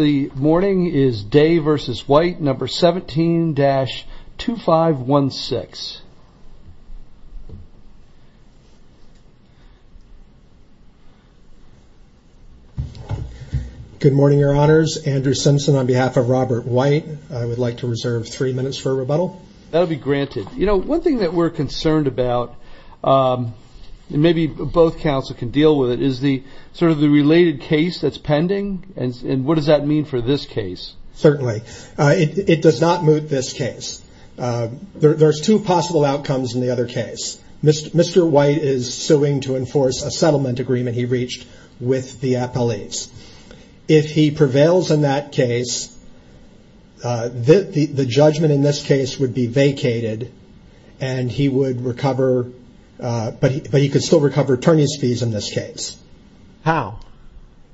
The morning is Day v. White, No. 17-2516. Good morning, Your Honors. Andrew Simpson on behalf of Robert White. I would like to reserve three minutes for rebuttal. That'll be granted. You know, one thing that we're concerned about, and maybe both counsel can deal with it, is sort of the related case that's pending, and what does that mean for this case? Certainly. It does not moot this case. There's two possible outcomes in the other case. Mr. White is suing to enforce a settlement agreement he reached with the appellees. If he prevails in that case, the judgment in this case would be vacated, but he could still recover attorney's fees in this case. How?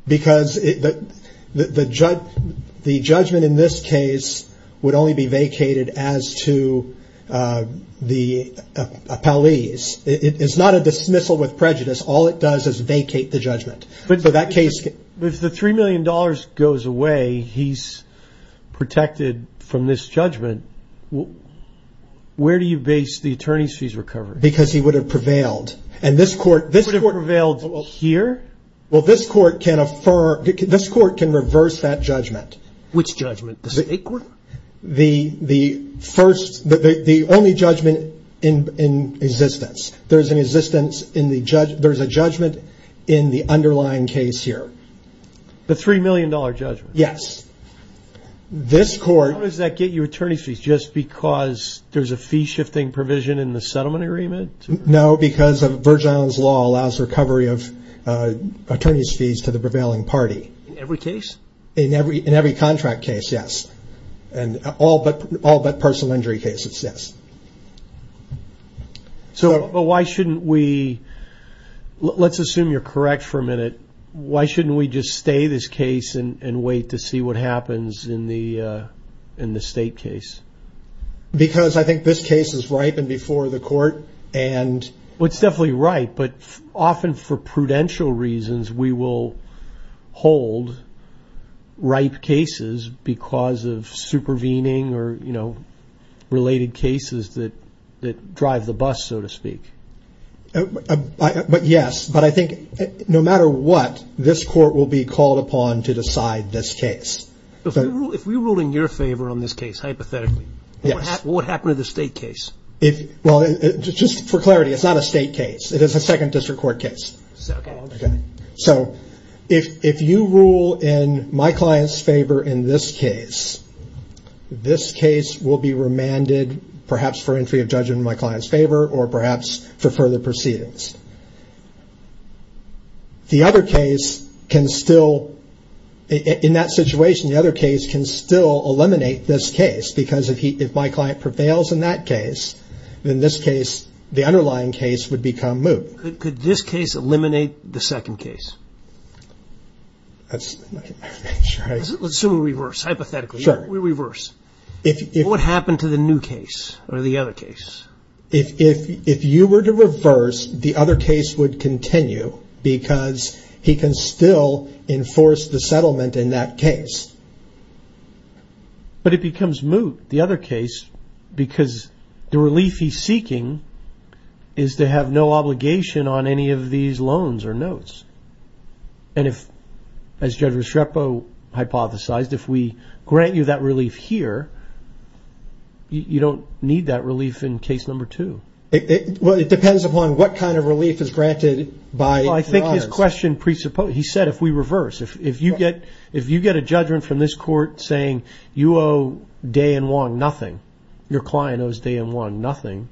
Because the judgment in this case would only be vacated as to the appellees. It's not a dismissal with prejudice. All it does is vacate the judgment. If the $3 million goes away, he's protected from this judgment, where do you base the attorney's fees recovery? Because he would have prevailed. He would have prevailed here? Well, this court can reverse that judgment. Which judgment? The state court? The only judgment in existence. There's a judgment in the underlying case here. The $3 million judgment? Yes. How does that get you attorney's fees? Just because there's a fee-shifting provision in the settlement agreement? No, because of Virgin Islands law allows recovery of attorney's fees to the prevailing party. In every case? In every contract case, yes. All but personal injury cases, yes. Let's assume you're correct for a minute. Why shouldn't we just stay this case and wait to see what happens in the state case? Because I think this case is ripe and before the court. It's definitely ripe, but often for prudential reasons, we will hold ripe cases because of supervening or related cases that drive the bus, so to speak. Yes, but I think no matter what, this court will be called upon to decide this case. If we rule in your favor on this case, hypothetically, what would happen to the state case? Just for clarity, it's not a state case. It is a second district court case. If you rule in my client's favor in this case, this case will be remanded perhaps for entry of judgment in my client's favor or perhaps for further proceedings. The other case can still, in that situation, the other case can still eliminate this case. Because if my client prevails in that case, then this case, the underlying case, would become moot. Could this case eliminate the second case? Let's assume we reverse, hypothetically. Sure. We reverse. What would happen to the new case or the other case? If you were to reverse, the other case would continue because he can still enforce the settlement in that case. But it becomes moot, the other case, because the relief he's seeking is to have no obligation on any of these loans or notes. As Judge Reschrepo hypothesized, if we grant you that relief here, you don't need that relief in case number two. It depends upon what kind of relief is granted by the others. I think his question presupposes, he said if we reverse, if you get a judgment from this court saying you owe Day and Wong nothing, your client owes Day and Wong nothing,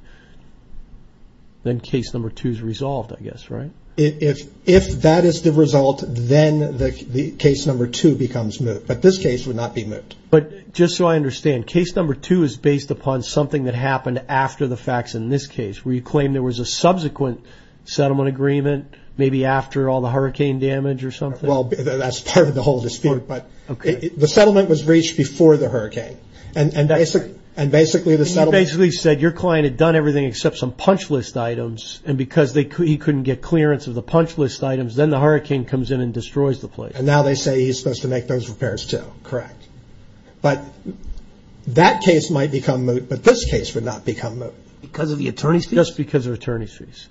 then case number two is resolved, I guess, right? If that is the result, then case number two becomes moot. But this case would not be moot. But just so I understand, case number two is based upon something that happened after the facts in this case, where you claim there was a subsequent settlement agreement, maybe after all the hurricane damage or something? Well, that's part of the whole dispute. But the settlement was reached before the hurricane. He basically said your client had done everything except some punch list items, and because he couldn't get clearance of the punch list items, then the hurricane comes in and destroys the place. And now they say he's supposed to make those repairs, too. Correct. But that case might become moot, but this case would not become moot. Because of the attorney's fees? Just because of attorney's fees.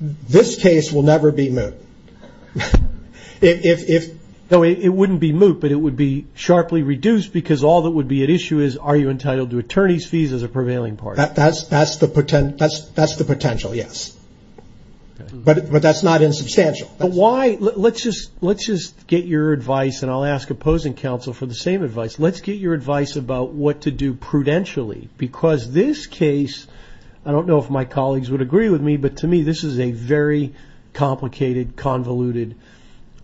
This case will never be moot. No, it wouldn't be moot, but it would be sharply reduced because all that would be at issue is are you entitled to attorney's fees as a prevailing party? That's the potential, yes. But that's not insubstantial. But why? Let's just get your advice, and I'll ask opposing counsel for the same advice. Let's get your advice about what to do prudentially. Because this case, I don't know if my colleagues would agree with me, but to me this is a very complicated, convoluted,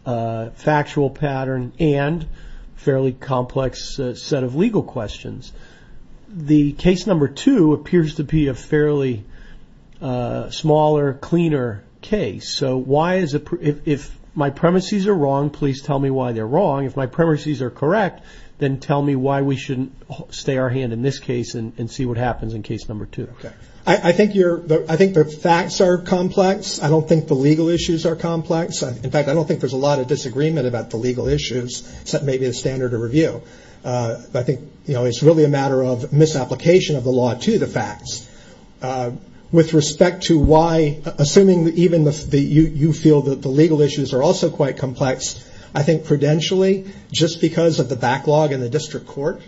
factual pattern and fairly complex set of legal questions. The case number two appears to be a fairly smaller, cleaner case. If my premises are wrong, please tell me why they're wrong. If my premises are correct, then tell me why we shouldn't stay our hand in this case and see what happens in case number two. I think the facts are complex. I don't think the legal issues are complex. In fact, I don't think there's a lot of disagreement about the legal issues, except maybe the standard of review. I think it's really a matter of misapplication of the law to the facts. With respect to why, assuming even you feel that the legal issues are also quite complex, I think prudentially just because of the backlog in the district court,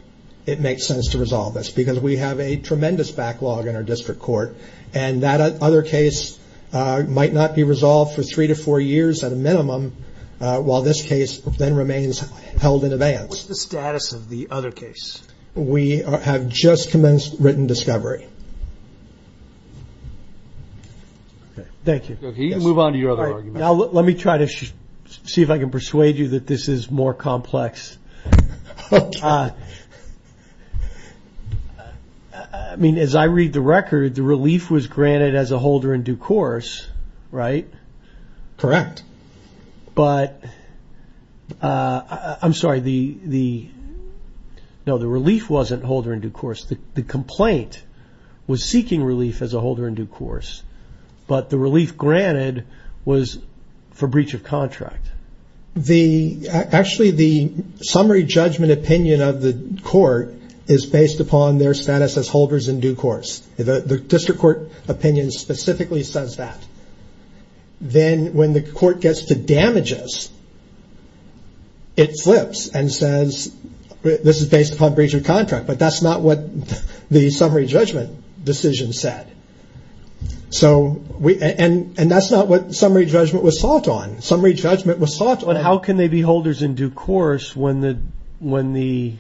it makes sense to resolve this, because we have a tremendous backlog in our district court. And that other case might not be resolved for three to four years at a minimum, while this case then remains held in abeyance. What's the status of the other case? We have just commenced written discovery. Thank you. Can you move on to your other argument? Let me try to see if I can persuade you that this is more complex. I mean, as I read the record, the relief was granted as a holder in due course, right? Correct. But, I'm sorry, no, the relief wasn't holder in due course. The complaint was seeking relief as a holder in due course, but the relief granted was for breach of contract. Actually, the summary judgment opinion of the court is based upon their status as holders in due course. The district court opinion specifically says that. Then, when the court gets to damages, it flips and says this is based upon breach of contract, but that's not what the summary judgment decision said. And that's not what summary judgment was sought on. Summary judgment was sought on. But how can they be holders in due course when the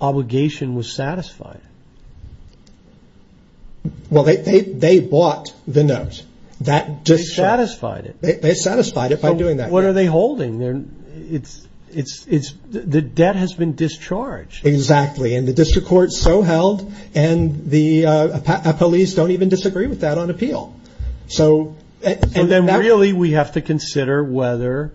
obligation was satisfied? Well, they bought the note. They satisfied it. They satisfied it by doing that. What are they holding? The debt has been discharged. Exactly. And the district court so held, and the police don't even disagree with that on appeal. And then, really, we have to consider whether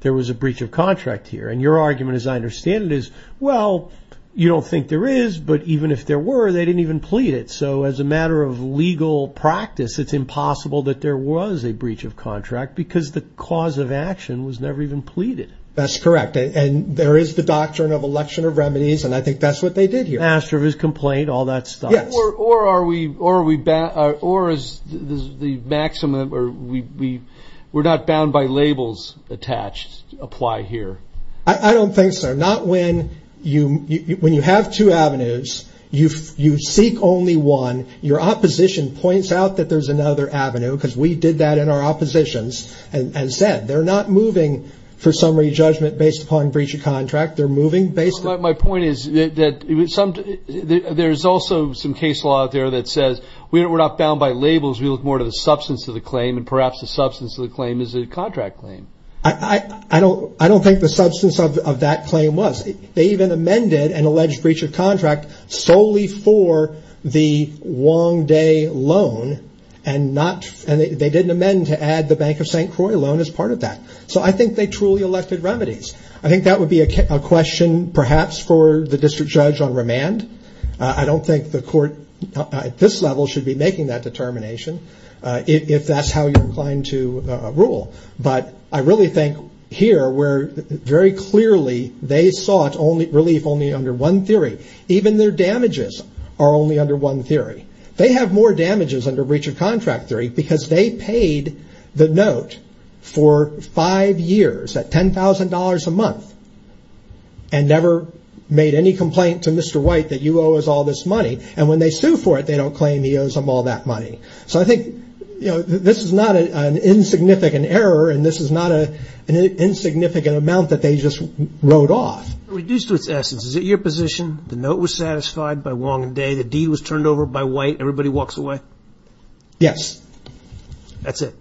there was a breach of contract here. And your argument, as I understand it, is, well, you don't think there is, but even if there were, they didn't even plead it. So as a matter of legal practice, it's impossible that there was a breach of contract because the cause of action was never even pleaded. That's correct. And there is the doctrine of election of remedies, and I think that's what they did here. As for his complaint, all that stuff. Or is the maximum or we're not bound by labels attached apply here? I don't think so. Not when you have two avenues, you seek only one. Your opposition points out that there's another avenue because we did that in our oppositions and said they're not moving for summary judgment based upon breach of contract. My point is that there's also some case law out there that says we're not bound by labels. We look more to the substance of the claim, and perhaps the substance of the claim is a contract claim. I don't think the substance of that claim was. They even amended an alleged breach of contract solely for the Wong Day loan, and they didn't amend to add the Bank of St. Croix loan as part of that. So I think they truly elected remedies. I think that would be a question perhaps for the district judge on remand. I don't think the court at this level should be making that determination if that's how you're inclined to rule. But I really think here where very clearly they sought relief only under one theory. Even their damages are only under one theory. They have more damages under breach of contract theory because they paid the note for five years at $10,000 a month and never made any complaint to Mr. White that you owe us all this money. And when they sue for it, they don't claim he owes them all that money. So I think this is not an insignificant error, and this is not an insignificant amount that they just wrote off. It's reduced to its essence. Is it your position the note was satisfied by Wong Day, the deed was turned over by White, everybody walks away? Yes. That's it?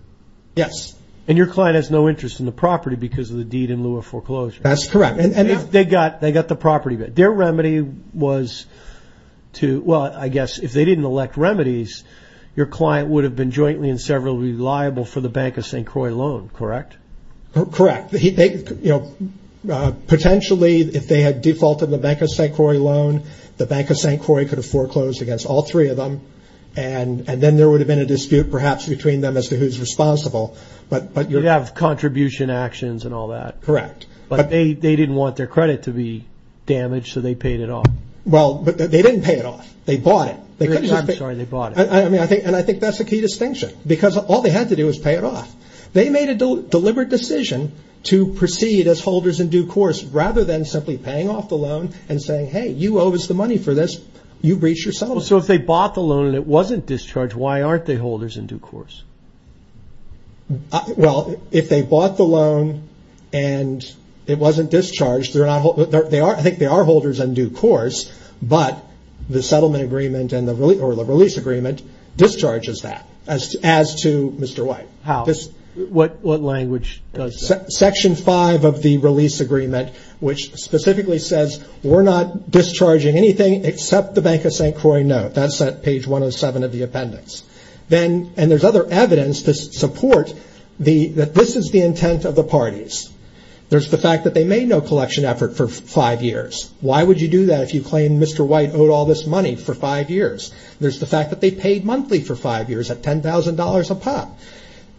Yes. And your client has no interest in the property because of the deed in lieu of foreclosure? That's correct. They got the property. Their remedy was to – well, I guess if they didn't elect remedies, your client would have been jointly and severally liable for the Bank of St. Croix loan, correct? Correct. Potentially, if they had defaulted the Bank of St. Croix loan, the Bank of St. Croix could have foreclosed against all three of them, and then there would have been a dispute perhaps between them as to who's responsible. You'd have contribution actions and all that. Correct. But they didn't want their credit to be damaged, so they paid it off. Well, they didn't pay it off. They bought it. I'm sorry, they bought it. And I think that's a key distinction because all they had to do was pay it off. They made a deliberate decision to proceed as holders in due course rather than simply paying off the loan and saying, hey, you owe us the money for this, you breach your settlement. So if they bought the loan and it wasn't discharged, why aren't they holders in due course? Well, if they bought the loan and it wasn't discharged, I think they are holders in due course, but the settlement agreement or the release agreement discharges that as to Mr. White. How? What language does that? Section 5 of the release agreement, which specifically says, we're not discharging anything except the Bank of St. Croix note. That's at page 107 of the appendix. And there's other evidence to support that this is the intent of the parties. There's the fact that they made no collection effort for five years. Why would you do that if you claim Mr. White owed all this money for five years? There's the fact that they paid monthly for five years at $10,000 a pop.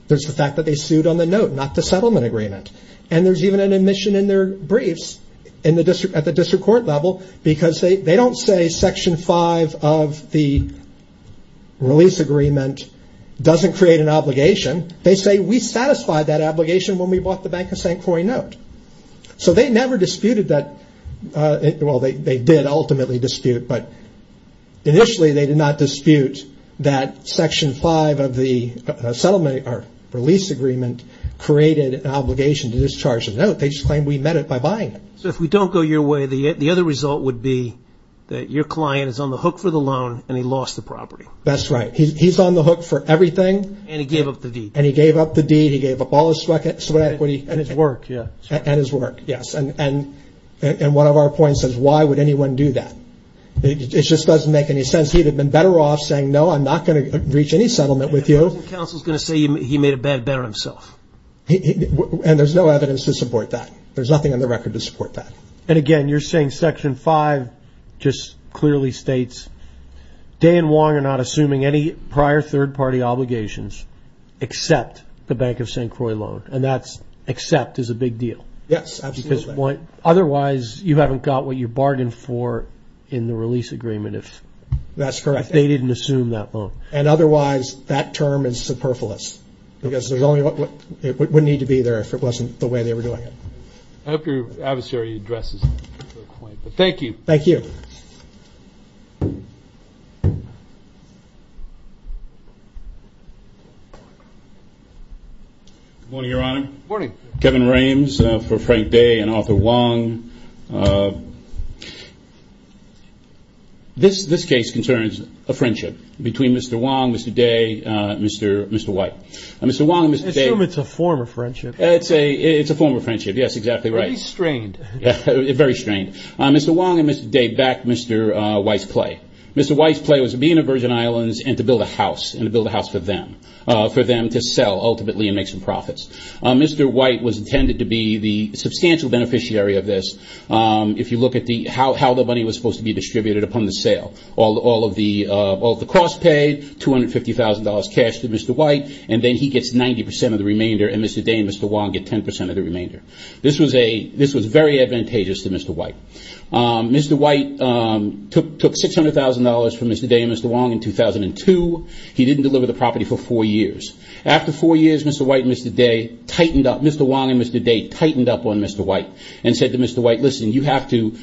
There's the fact that they sued on the note, not the settlement agreement. And there's even an admission in their briefs at the district court level, because they don't say Section 5 of the release agreement doesn't create an obligation. They say, we satisfied that obligation when we bought the Bank of St. Croix note. So they never disputed that. Well, they did ultimately dispute, but initially they did not dispute that Section 5 of the release agreement created an obligation to discharge the note. They just claimed we met it by buying it. So if we don't go your way, the other result would be that your client is on the hook for the loan and he lost the property. That's right. He's on the hook for everything. And he gave up the deed. And he gave up the deed. He gave up all his sweat equity. And his work, yeah. And his work, yes. And one of our points is, why would anyone do that? It just doesn't make any sense. He would have been better off saying, no, I'm not going to reach any settlement with you. The council is going to say he made a bad bet on himself. And there's no evidence to support that. There's nothing on the record to support that. And, again, you're saying Section 5 just clearly states, Dan Wong and I are not assuming any prior third-party obligations except the Bank of St. Croix loan. And that's except is a big deal. Yes, absolutely. Because otherwise you haven't got what you bargained for in the release agreement. That's correct. If they didn't assume that loan. And otherwise that term is superfluous. Because it wouldn't need to be there if it wasn't the way they were doing it. I hope your adversary addresses that point. But thank you. Thank you. Good morning, Your Honor. Good morning. Kevin Rames for Frank Day and Arthur Wong. This case concerns a friendship between Mr. Wong, Mr. Day, and Mr. White. I assume it's a form of friendship. It's a form of friendship. Yes, exactly right. Very strained. Very strained. Mr. Wong and Mr. Day backed Mr. White's play. Mr. White's play was to be in the Virgin Islands and to build a house, and to build a house for them, for them to sell ultimately and make some profits. Mr. White was intended to be the substantial beneficiary of this. If you look at how the money was supposed to be distributed upon the sale, all of the cost paid, $250,000 cash to Mr. White, and then he gets 90% of the remainder and Mr. Day and Mr. Wong get 10% of the remainder. This was very advantageous to Mr. White. Mr. White took $600,000 from Mr. Day and Mr. Wong in 2002. He didn't deliver the property for four years. After four years, Mr. White and Mr. Day tightened up. Mr. Wong and Mr. Day tightened up on Mr. White and said to Mr. White, listen, you have to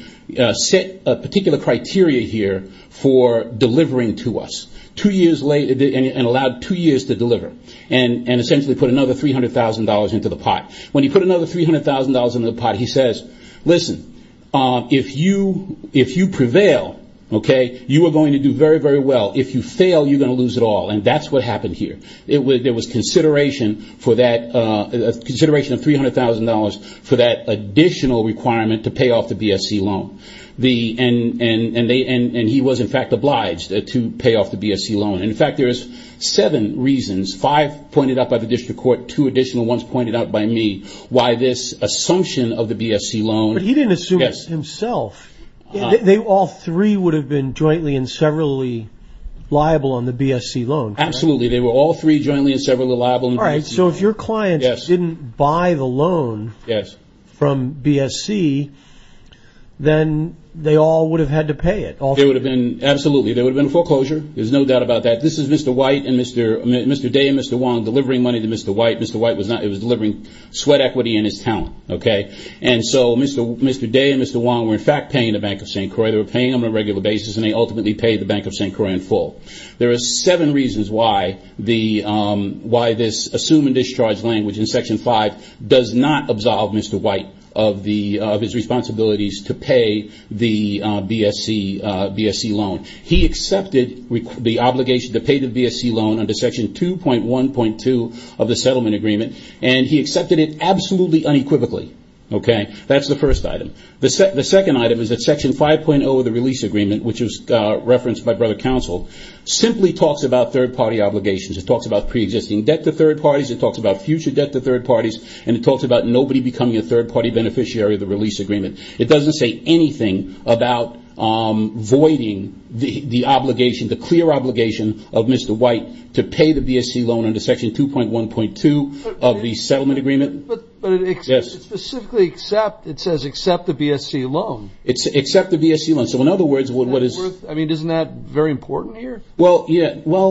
set a particular criteria here for delivering to us, and allowed two years to deliver, and essentially put another $300,000 into the pot. When he put another $300,000 into the pot, he says, listen, if you prevail, okay, you are going to do very, very well. If you fail, you're going to lose it all, and that's what happened here. There was consideration of $300,000 for that additional requirement to pay off the BSC loan, and he was, in fact, obliged to pay off the BSC loan. In fact, there is seven reasons, five pointed out by the district court, two additional ones pointed out by me, why this assumption of the BSC loan. But he didn't assume it himself. All three would have been jointly and severally liable on the BSC loan, correct? Absolutely. They were all three jointly and severally liable. All right. So if your clients didn't buy the loan from BSC, then they all would have had to pay it. Absolutely. There would have been foreclosure. There's no doubt about that. This is Mr. White and Mr. Day and Mr. Wong delivering money to Mr. White. Mr. White was delivering sweat equity and his talent. Okay? And so Mr. Day and Mr. Wong were, in fact, paying the Bank of St. Croix. They were paying on a regular basis, and they ultimately paid the Bank of St. Croix in full. There are seven reasons why this assume and discharge language in Section 5 does not absolve Mr. White of his responsibilities to pay the BSC loan. He accepted the obligation to pay the BSC loan under Section 2.1.2 of the settlement agreement, and he accepted it absolutely unequivocally. Okay? That's the first item. The second item is that Section 5.0 of the release agreement, which was referenced by Brother Counsel, simply talks about third-party obligations. It talks about preexisting debt to third parties. It talks about future debt to third parties. And it talks about nobody becoming a third-party beneficiary of the release agreement. It doesn't say anything about voiding the obligation, the clear obligation, of Mr. White to pay the BSC loan under Section 2.1.2 of the settlement agreement. But it specifically says accept the BSC loan. It says accept the BSC loan. I mean, isn't that very important here? Well,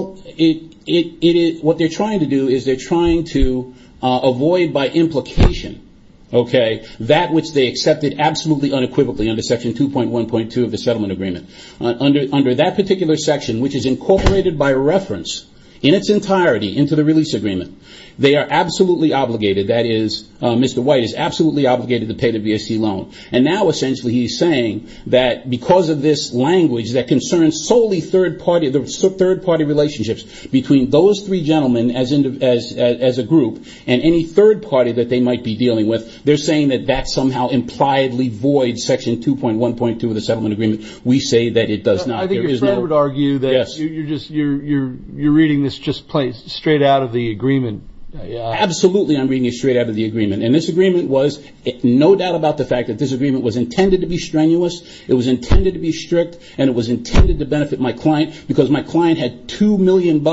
what they're trying to do is they're trying to avoid, by implication, that which they accepted absolutely unequivocally under Section 2.1.2 of the settlement agreement. Under that particular section, which is incorporated by reference in its entirety into the release agreement, they are absolutely obligated, that is, Mr. White is absolutely obligated to pay the BSC loan. And now, essentially, he's saying that because of this language that concerns solely third-party relationships between those three gentlemen as a group and any third party that they might be dealing with, they're saying that that somehow impliedly voids Section 2.1.2 of the settlement agreement. We say that it does not. I think your friend would argue that you're reading this just straight out of the agreement. Absolutely, I'm reading it straight out of the agreement. And this agreement was, no doubt about the fact that this agreement was intended to be strenuous, it was intended to be strict, and it was intended to benefit my client because my client had $2 million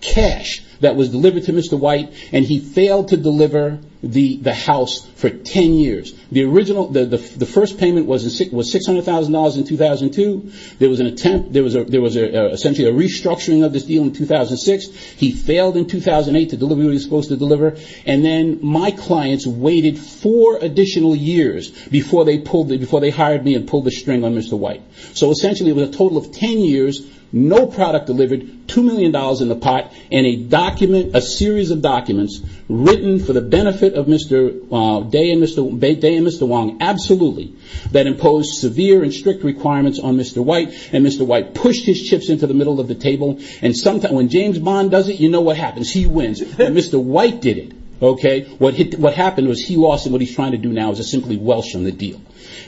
cash that was delivered to Mr. White, and he failed to deliver the house for 10 years. The original, the first payment was $600,000 in 2002. There was an attempt, there was essentially a restructuring of this deal in 2006. He failed in 2008 to deliver what he was supposed to deliver, and then my clients waited four additional years before they hired me and pulled the string on Mr. White. So, essentially, it was a total of 10 years, no product delivered, $2 million in the pot, and a series of documents written for the benefit of Mr. Day and Mr. Wong, absolutely, that imposed severe and strict requirements on Mr. White, and Mr. White pushed his chips into the middle of the table. And when James Bond does it, you know what happens. He wins. Mr. White did it. What happened was he lost, and what he's trying to do now is to simply welsh on the deal.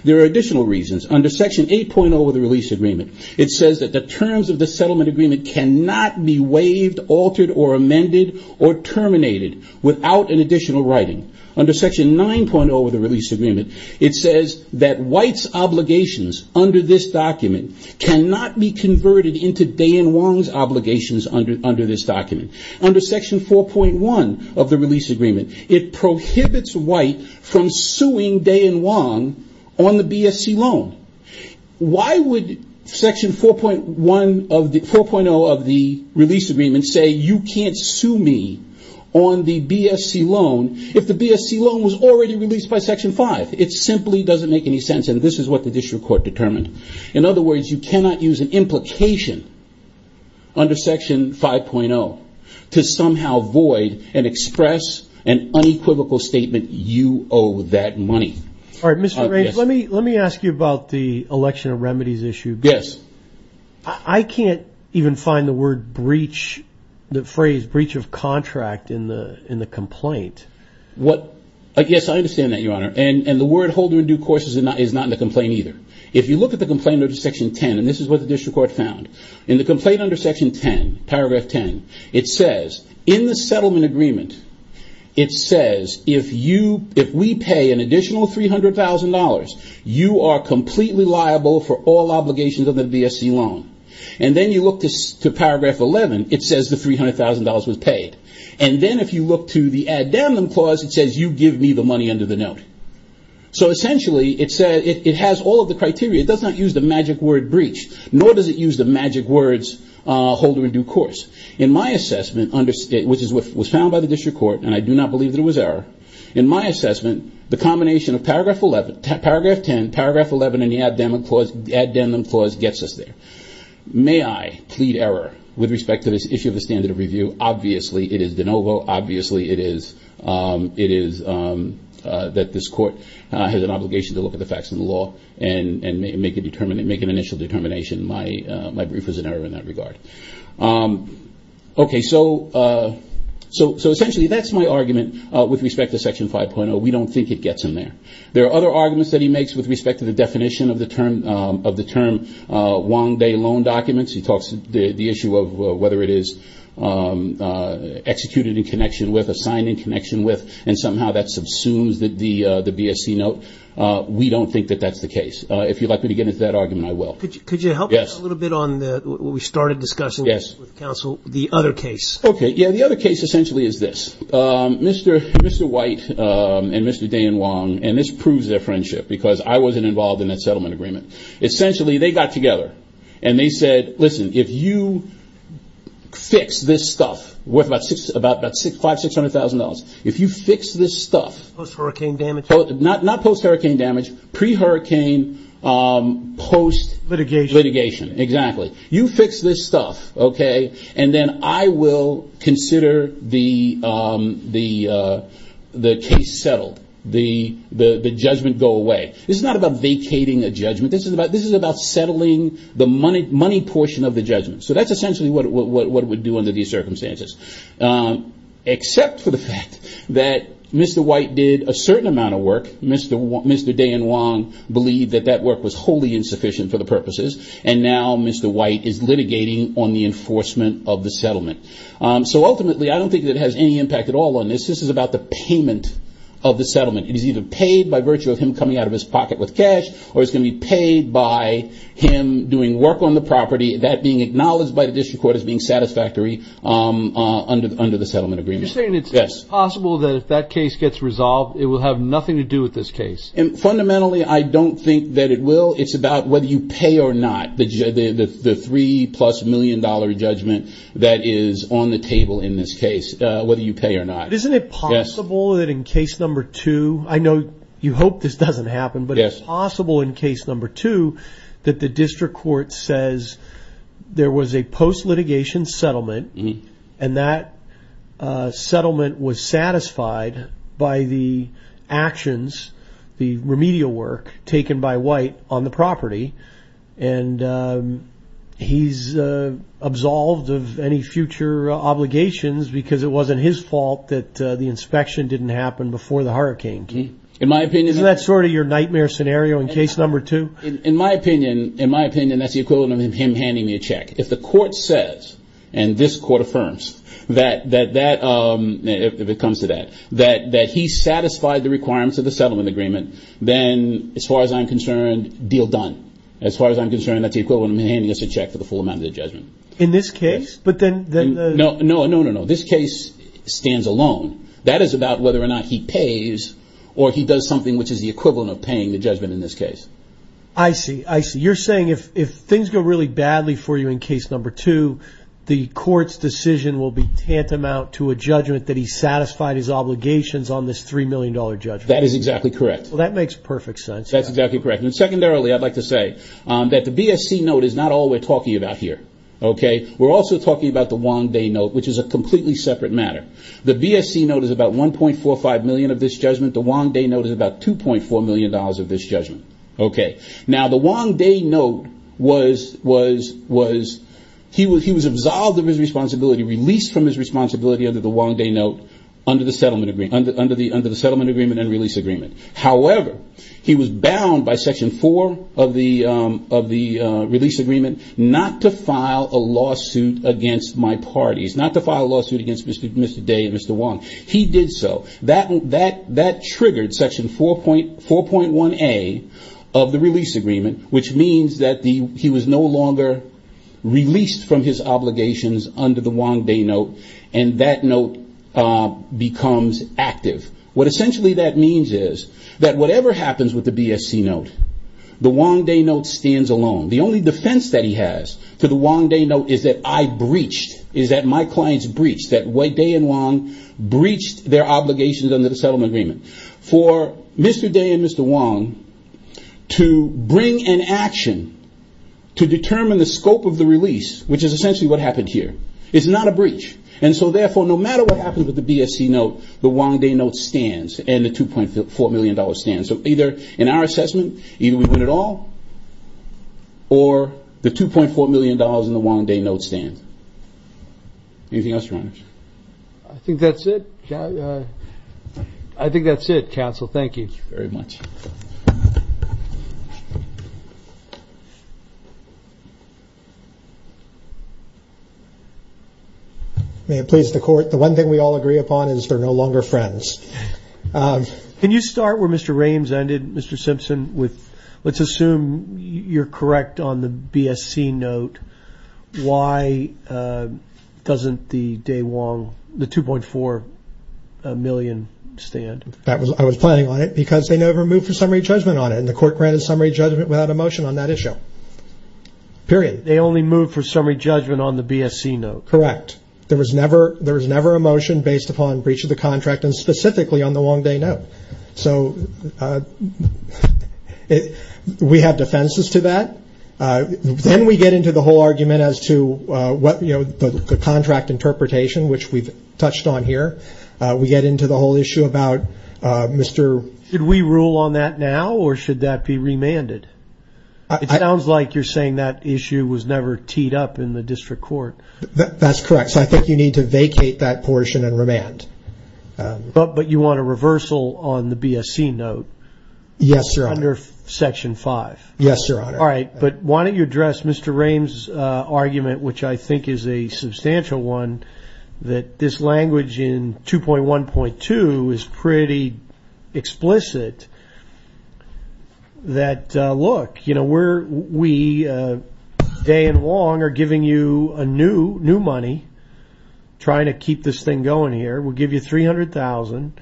There are additional reasons. Under Section 8.0 of the release agreement, it says that the terms of the settlement agreement cannot be waived, altered, or amended, or terminated without an additional writing. Under Section 9.0 of the release agreement, it says that White's obligations under this document cannot be converted into Day and Wong's obligations under this document. Under Section 4.1 of the release agreement, it prohibits White from suing Day and Wong on the BSC loan. Why would Section 4.0 of the release agreement say you can't sue me on the BSC loan if the BSC loan was already released by Section 5? It simply doesn't make any sense, and this is what the district court determined. In other words, you cannot use an implication under Section 5.0 to somehow void and express an unequivocal statement, you owe that money. All right, Mr. Range, let me ask you about the election of remedies issue. Yes. I can't even find the phrase breach of contract in the complaint. Yes, I understand that, Your Honor. And the word holder in due course is not in the complaint either. If you look at the complaint under Section 10, and this is what the district court found, in the complaint under Section 10, paragraph 10, it says, in the settlement agreement, it says, if we pay an additional $300,000, you are completely liable for all obligations of the BSC loan. And then you look to paragraph 11, it says the $300,000 was paid. And then if you look to the add damn them clause, it says you give me the money under the note. So essentially, it has all of the criteria. It does not use the magic word breach, nor does it use the magic words holder in due course. In my assessment, which was found by the district court, and I do not believe that it was error, in my assessment, the combination of paragraph 10, paragraph 11, and the add damn them clause gets us there. May I plead error with respect to this issue of the standard of review? Obviously, it is de novo. Obviously, it is that this court has an obligation to look at the facts of the law and make an initial determination. My brief was an error in that regard. Okay, so essentially, that is my argument with respect to Section 5.0. We do not think it gets in there. There are other arguments that he makes with respect to the definition of the term one day loan documents. He talks the issue of whether it is executed in connection with, assigned in connection with, and somehow that subsumes the BSC note. We do not think that that is the case. If you'd like me to get into that argument, I will. Could you help us a little bit on what we started discussing with counsel, the other case? Okay, yeah, the other case essentially is this. Mr. White and Mr. Day and Wong, and this proves their friendship because I wasn't involved in that settlement agreement. Essentially, they got together and they said, listen, if you fix this stuff worth about $500,000, $600,000, if you fix this stuff. Post-hurricane damage? Not post-hurricane damage, pre-hurricane post litigation. Litigation, exactly. You fix this stuff, okay, and then I will consider the case settled. The judgment go away. This is not about vacating a judgment. This is about settling the money portion of the judgment. So that's essentially what it would do under these circumstances. Except for the fact that Mr. White did a certain amount of work. Mr. Day and Wong believed that that work was wholly insufficient for the purposes, and now Mr. White is litigating on the enforcement of the settlement. So ultimately, I don't think it has any impact at all on this. This is about the payment of the settlement. It is either paid by virtue of him coming out of his pocket with cash, or it's going to be paid by him doing work on the property. That being acknowledged by the district court as being satisfactory under the settlement agreement. You're saying it's possible that if that case gets resolved, it will have nothing to do with this case. Fundamentally, I don't think that it will. It's about whether you pay or not, the three-plus-million-dollar judgment that is on the table in this case, whether you pay or not. But isn't it possible that in case number two, I know you hope this doesn't happen, but it's possible in case number two that the district court says there was a post-litigation settlement, and that settlement was satisfied by the actions, the remedial work taken by White on the property. And he's absolved of any future obligations because it wasn't his fault that the inspection didn't happen before the hurricane came. Isn't that sort of your nightmare scenario in case number two? In my opinion, that's the equivalent of him handing me a check. If the court says, and this court affirms, if it comes to that, that he satisfied the requirements of the settlement agreement, then as far as I'm concerned, deal done. As far as I'm concerned, that's the equivalent of him handing us a check for the full amount of the judgment. In this case? No, no, no, no. This case stands alone. That is about whether or not he pays or he does something which is the equivalent of paying the judgment in this case. I see. I see. You're saying if things go really badly for you in case number two, the court's decision will be tantamount to a judgment that he satisfied his obligations on this three-million-dollar judgment. That is exactly correct. That makes perfect sense. That's exactly correct. Secondarily, I'd like to say that the BSC note is not all we're talking about here. We're also talking about the Wong Day note, which is a completely separate matter. The BSC note is about $1.45 million of this judgment. The Wong Day note is about $2.4 million of this judgment. Now, the Wong Day note, he was absolved of his responsibility, released from his responsibility under the Wong Day note, under the settlement agreement and release agreement. However, he was bound by Section 4 of the release agreement not to file a lawsuit against my parties, not to file a lawsuit against Mr. Day and Mr. Wong. He did so. That triggered Section 4.1A of the release agreement, which means that he was no longer released from his obligations under the Wong Day note, and that note becomes active. What essentially that means is that whatever happens with the BSC note, the Wong Day note stands alone. The only defense that he has for the Wong Day note is that I breached, is that my clients breached, that Day and Wong breached their obligations under the settlement agreement. For Mr. Day and Mr. Wong to bring an action to determine the scope of the release, which is essentially what happened here, is not a breach. Therefore, no matter what happens with the BSC note, the Wong Day note stands and the $2.4 million stands. So either in our assessment, either we win it all or the $2.4 million in the Wong Day note stands. Anything else, Your Honors? I think that's it. I think that's it, Counsel. Thank you. Thank you very much. May it please the Court. The one thing we all agree upon is they're no longer friends. Can you start where Mr. Rames ended, Mr. Simpson? Let's assume you're correct on the BSC note. Why doesn't the Day-Wong, the $2.4 million stand? I was planning on it because they never moved for summary judgment on it, and the Court granted summary judgment without a motion on that issue, period. They only moved for summary judgment on the BSC note. Correct. There was never a motion based upon breach of the contract and specifically on the Wong Day note. So we have defenses to that. Then we get into the whole argument as to the contract interpretation, which we've touched on here. We get into the whole issue about Mr. Should we rule on that now or should that be remanded? It sounds like you're saying that issue was never teed up in the district court. That's correct. So I think you need to vacate that portion and remand. But you want a reversal on the BSC note? Yes, Your Honor. Under Section 5? Yes, Your Honor. All right. But why don't you address Mr. Rames' argument, which I think is a substantial one, that this language in 2.1.2 is pretty explicit that, look, we, day and long, are giving you new money, trying to keep this thing going here. We'll give you $300,000.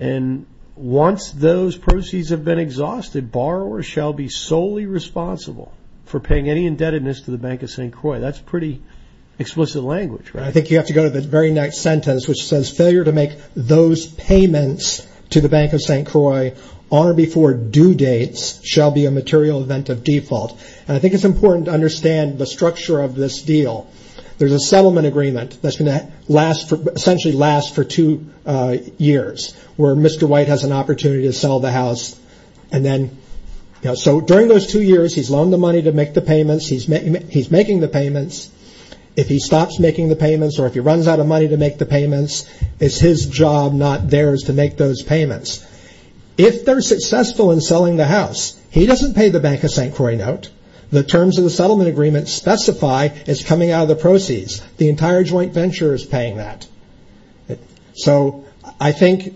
And once those proceeds have been exhausted, borrowers shall be solely responsible for paying any indebtedness to the Bank of St. Croix. That's pretty explicit language, right? I think you have to go to the very next sentence, which says, failure to make those payments to the Bank of St. Croix on or before due dates shall be a material event of default. And I think it's important to understand the structure of this deal. There's a settlement agreement that's going to essentially last for two years, where Mr. White has an opportunity to sell the house. So during those two years, he's loaned the money to make the payments. He's making the payments. If he stops making the payments or if he runs out of money to make the payments, it's his job, not theirs, to make those payments. If they're successful in selling the house, he doesn't pay the Bank of St. Croix a note. The terms of the settlement agreement specify it's coming out of the proceeds. The entire joint venture is paying that. So I think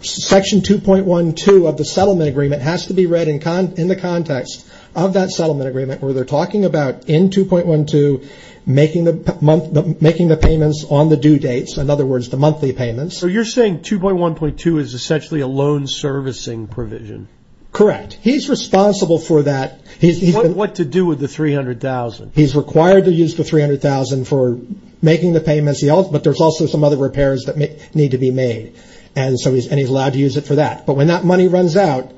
Section 2.12 of the settlement agreement has to be read in the context of that settlement agreement where they're talking about in 2.12 making the payments on the due dates, in other words, the monthly payments. So you're saying 2.1.2 is essentially a loan servicing provision? Correct. He's responsible for that. What to do with the $300,000? He's required to use the $300,000 for making the payments, but there's also some other repairs that need to be made, and he's allowed to use it for that. But when that money runs out,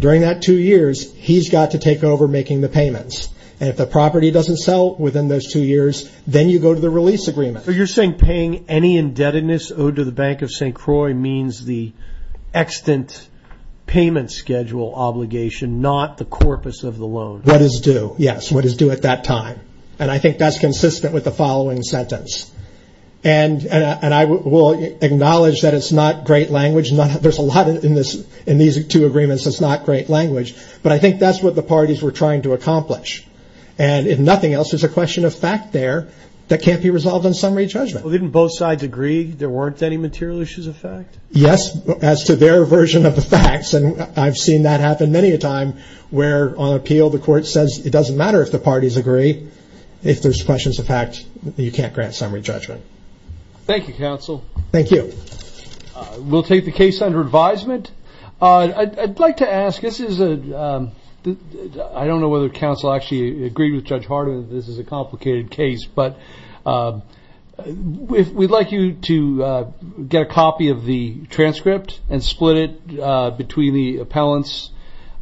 during that two years, he's got to take over making the payments. And if the property doesn't sell within those two years, then you go to the release agreement. So you're saying paying any indebtedness owed to the Bank of St. Croix means the extant payment schedule obligation, not the corpus of the loan? What is due, yes, what is due at that time. And I think that's consistent with the following sentence. And I will acknowledge that it's not great language. There's a lot in these two agreements that's not great language. But I think that's what the parties were trying to accomplish. And if nothing else, there's a question of fact there that can't be resolved on summary judgment. Well, didn't both sides agree there weren't any material issues of fact? Yes, as to their version of the facts, and I've seen that happen many a time, where on appeal the court says it doesn't matter if the parties agree. If there's questions of fact, you can't grant summary judgment. Thank you, counsel. Thank you. We'll take the case under advisement. I'd like to ask, this is a, I don't know whether counsel actually agreed with Judge Hardin that this is a complicated case, but we'd like you to get a copy of the transcript and split it between the appellants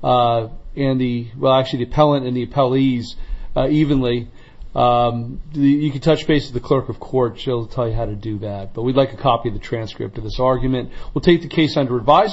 and the, well, actually the appellant and the appellees evenly. You can touch base with the clerk of court. She'll tell you how to do that. But we'd like a copy of the transcript of this argument. We'll take the case under advisement.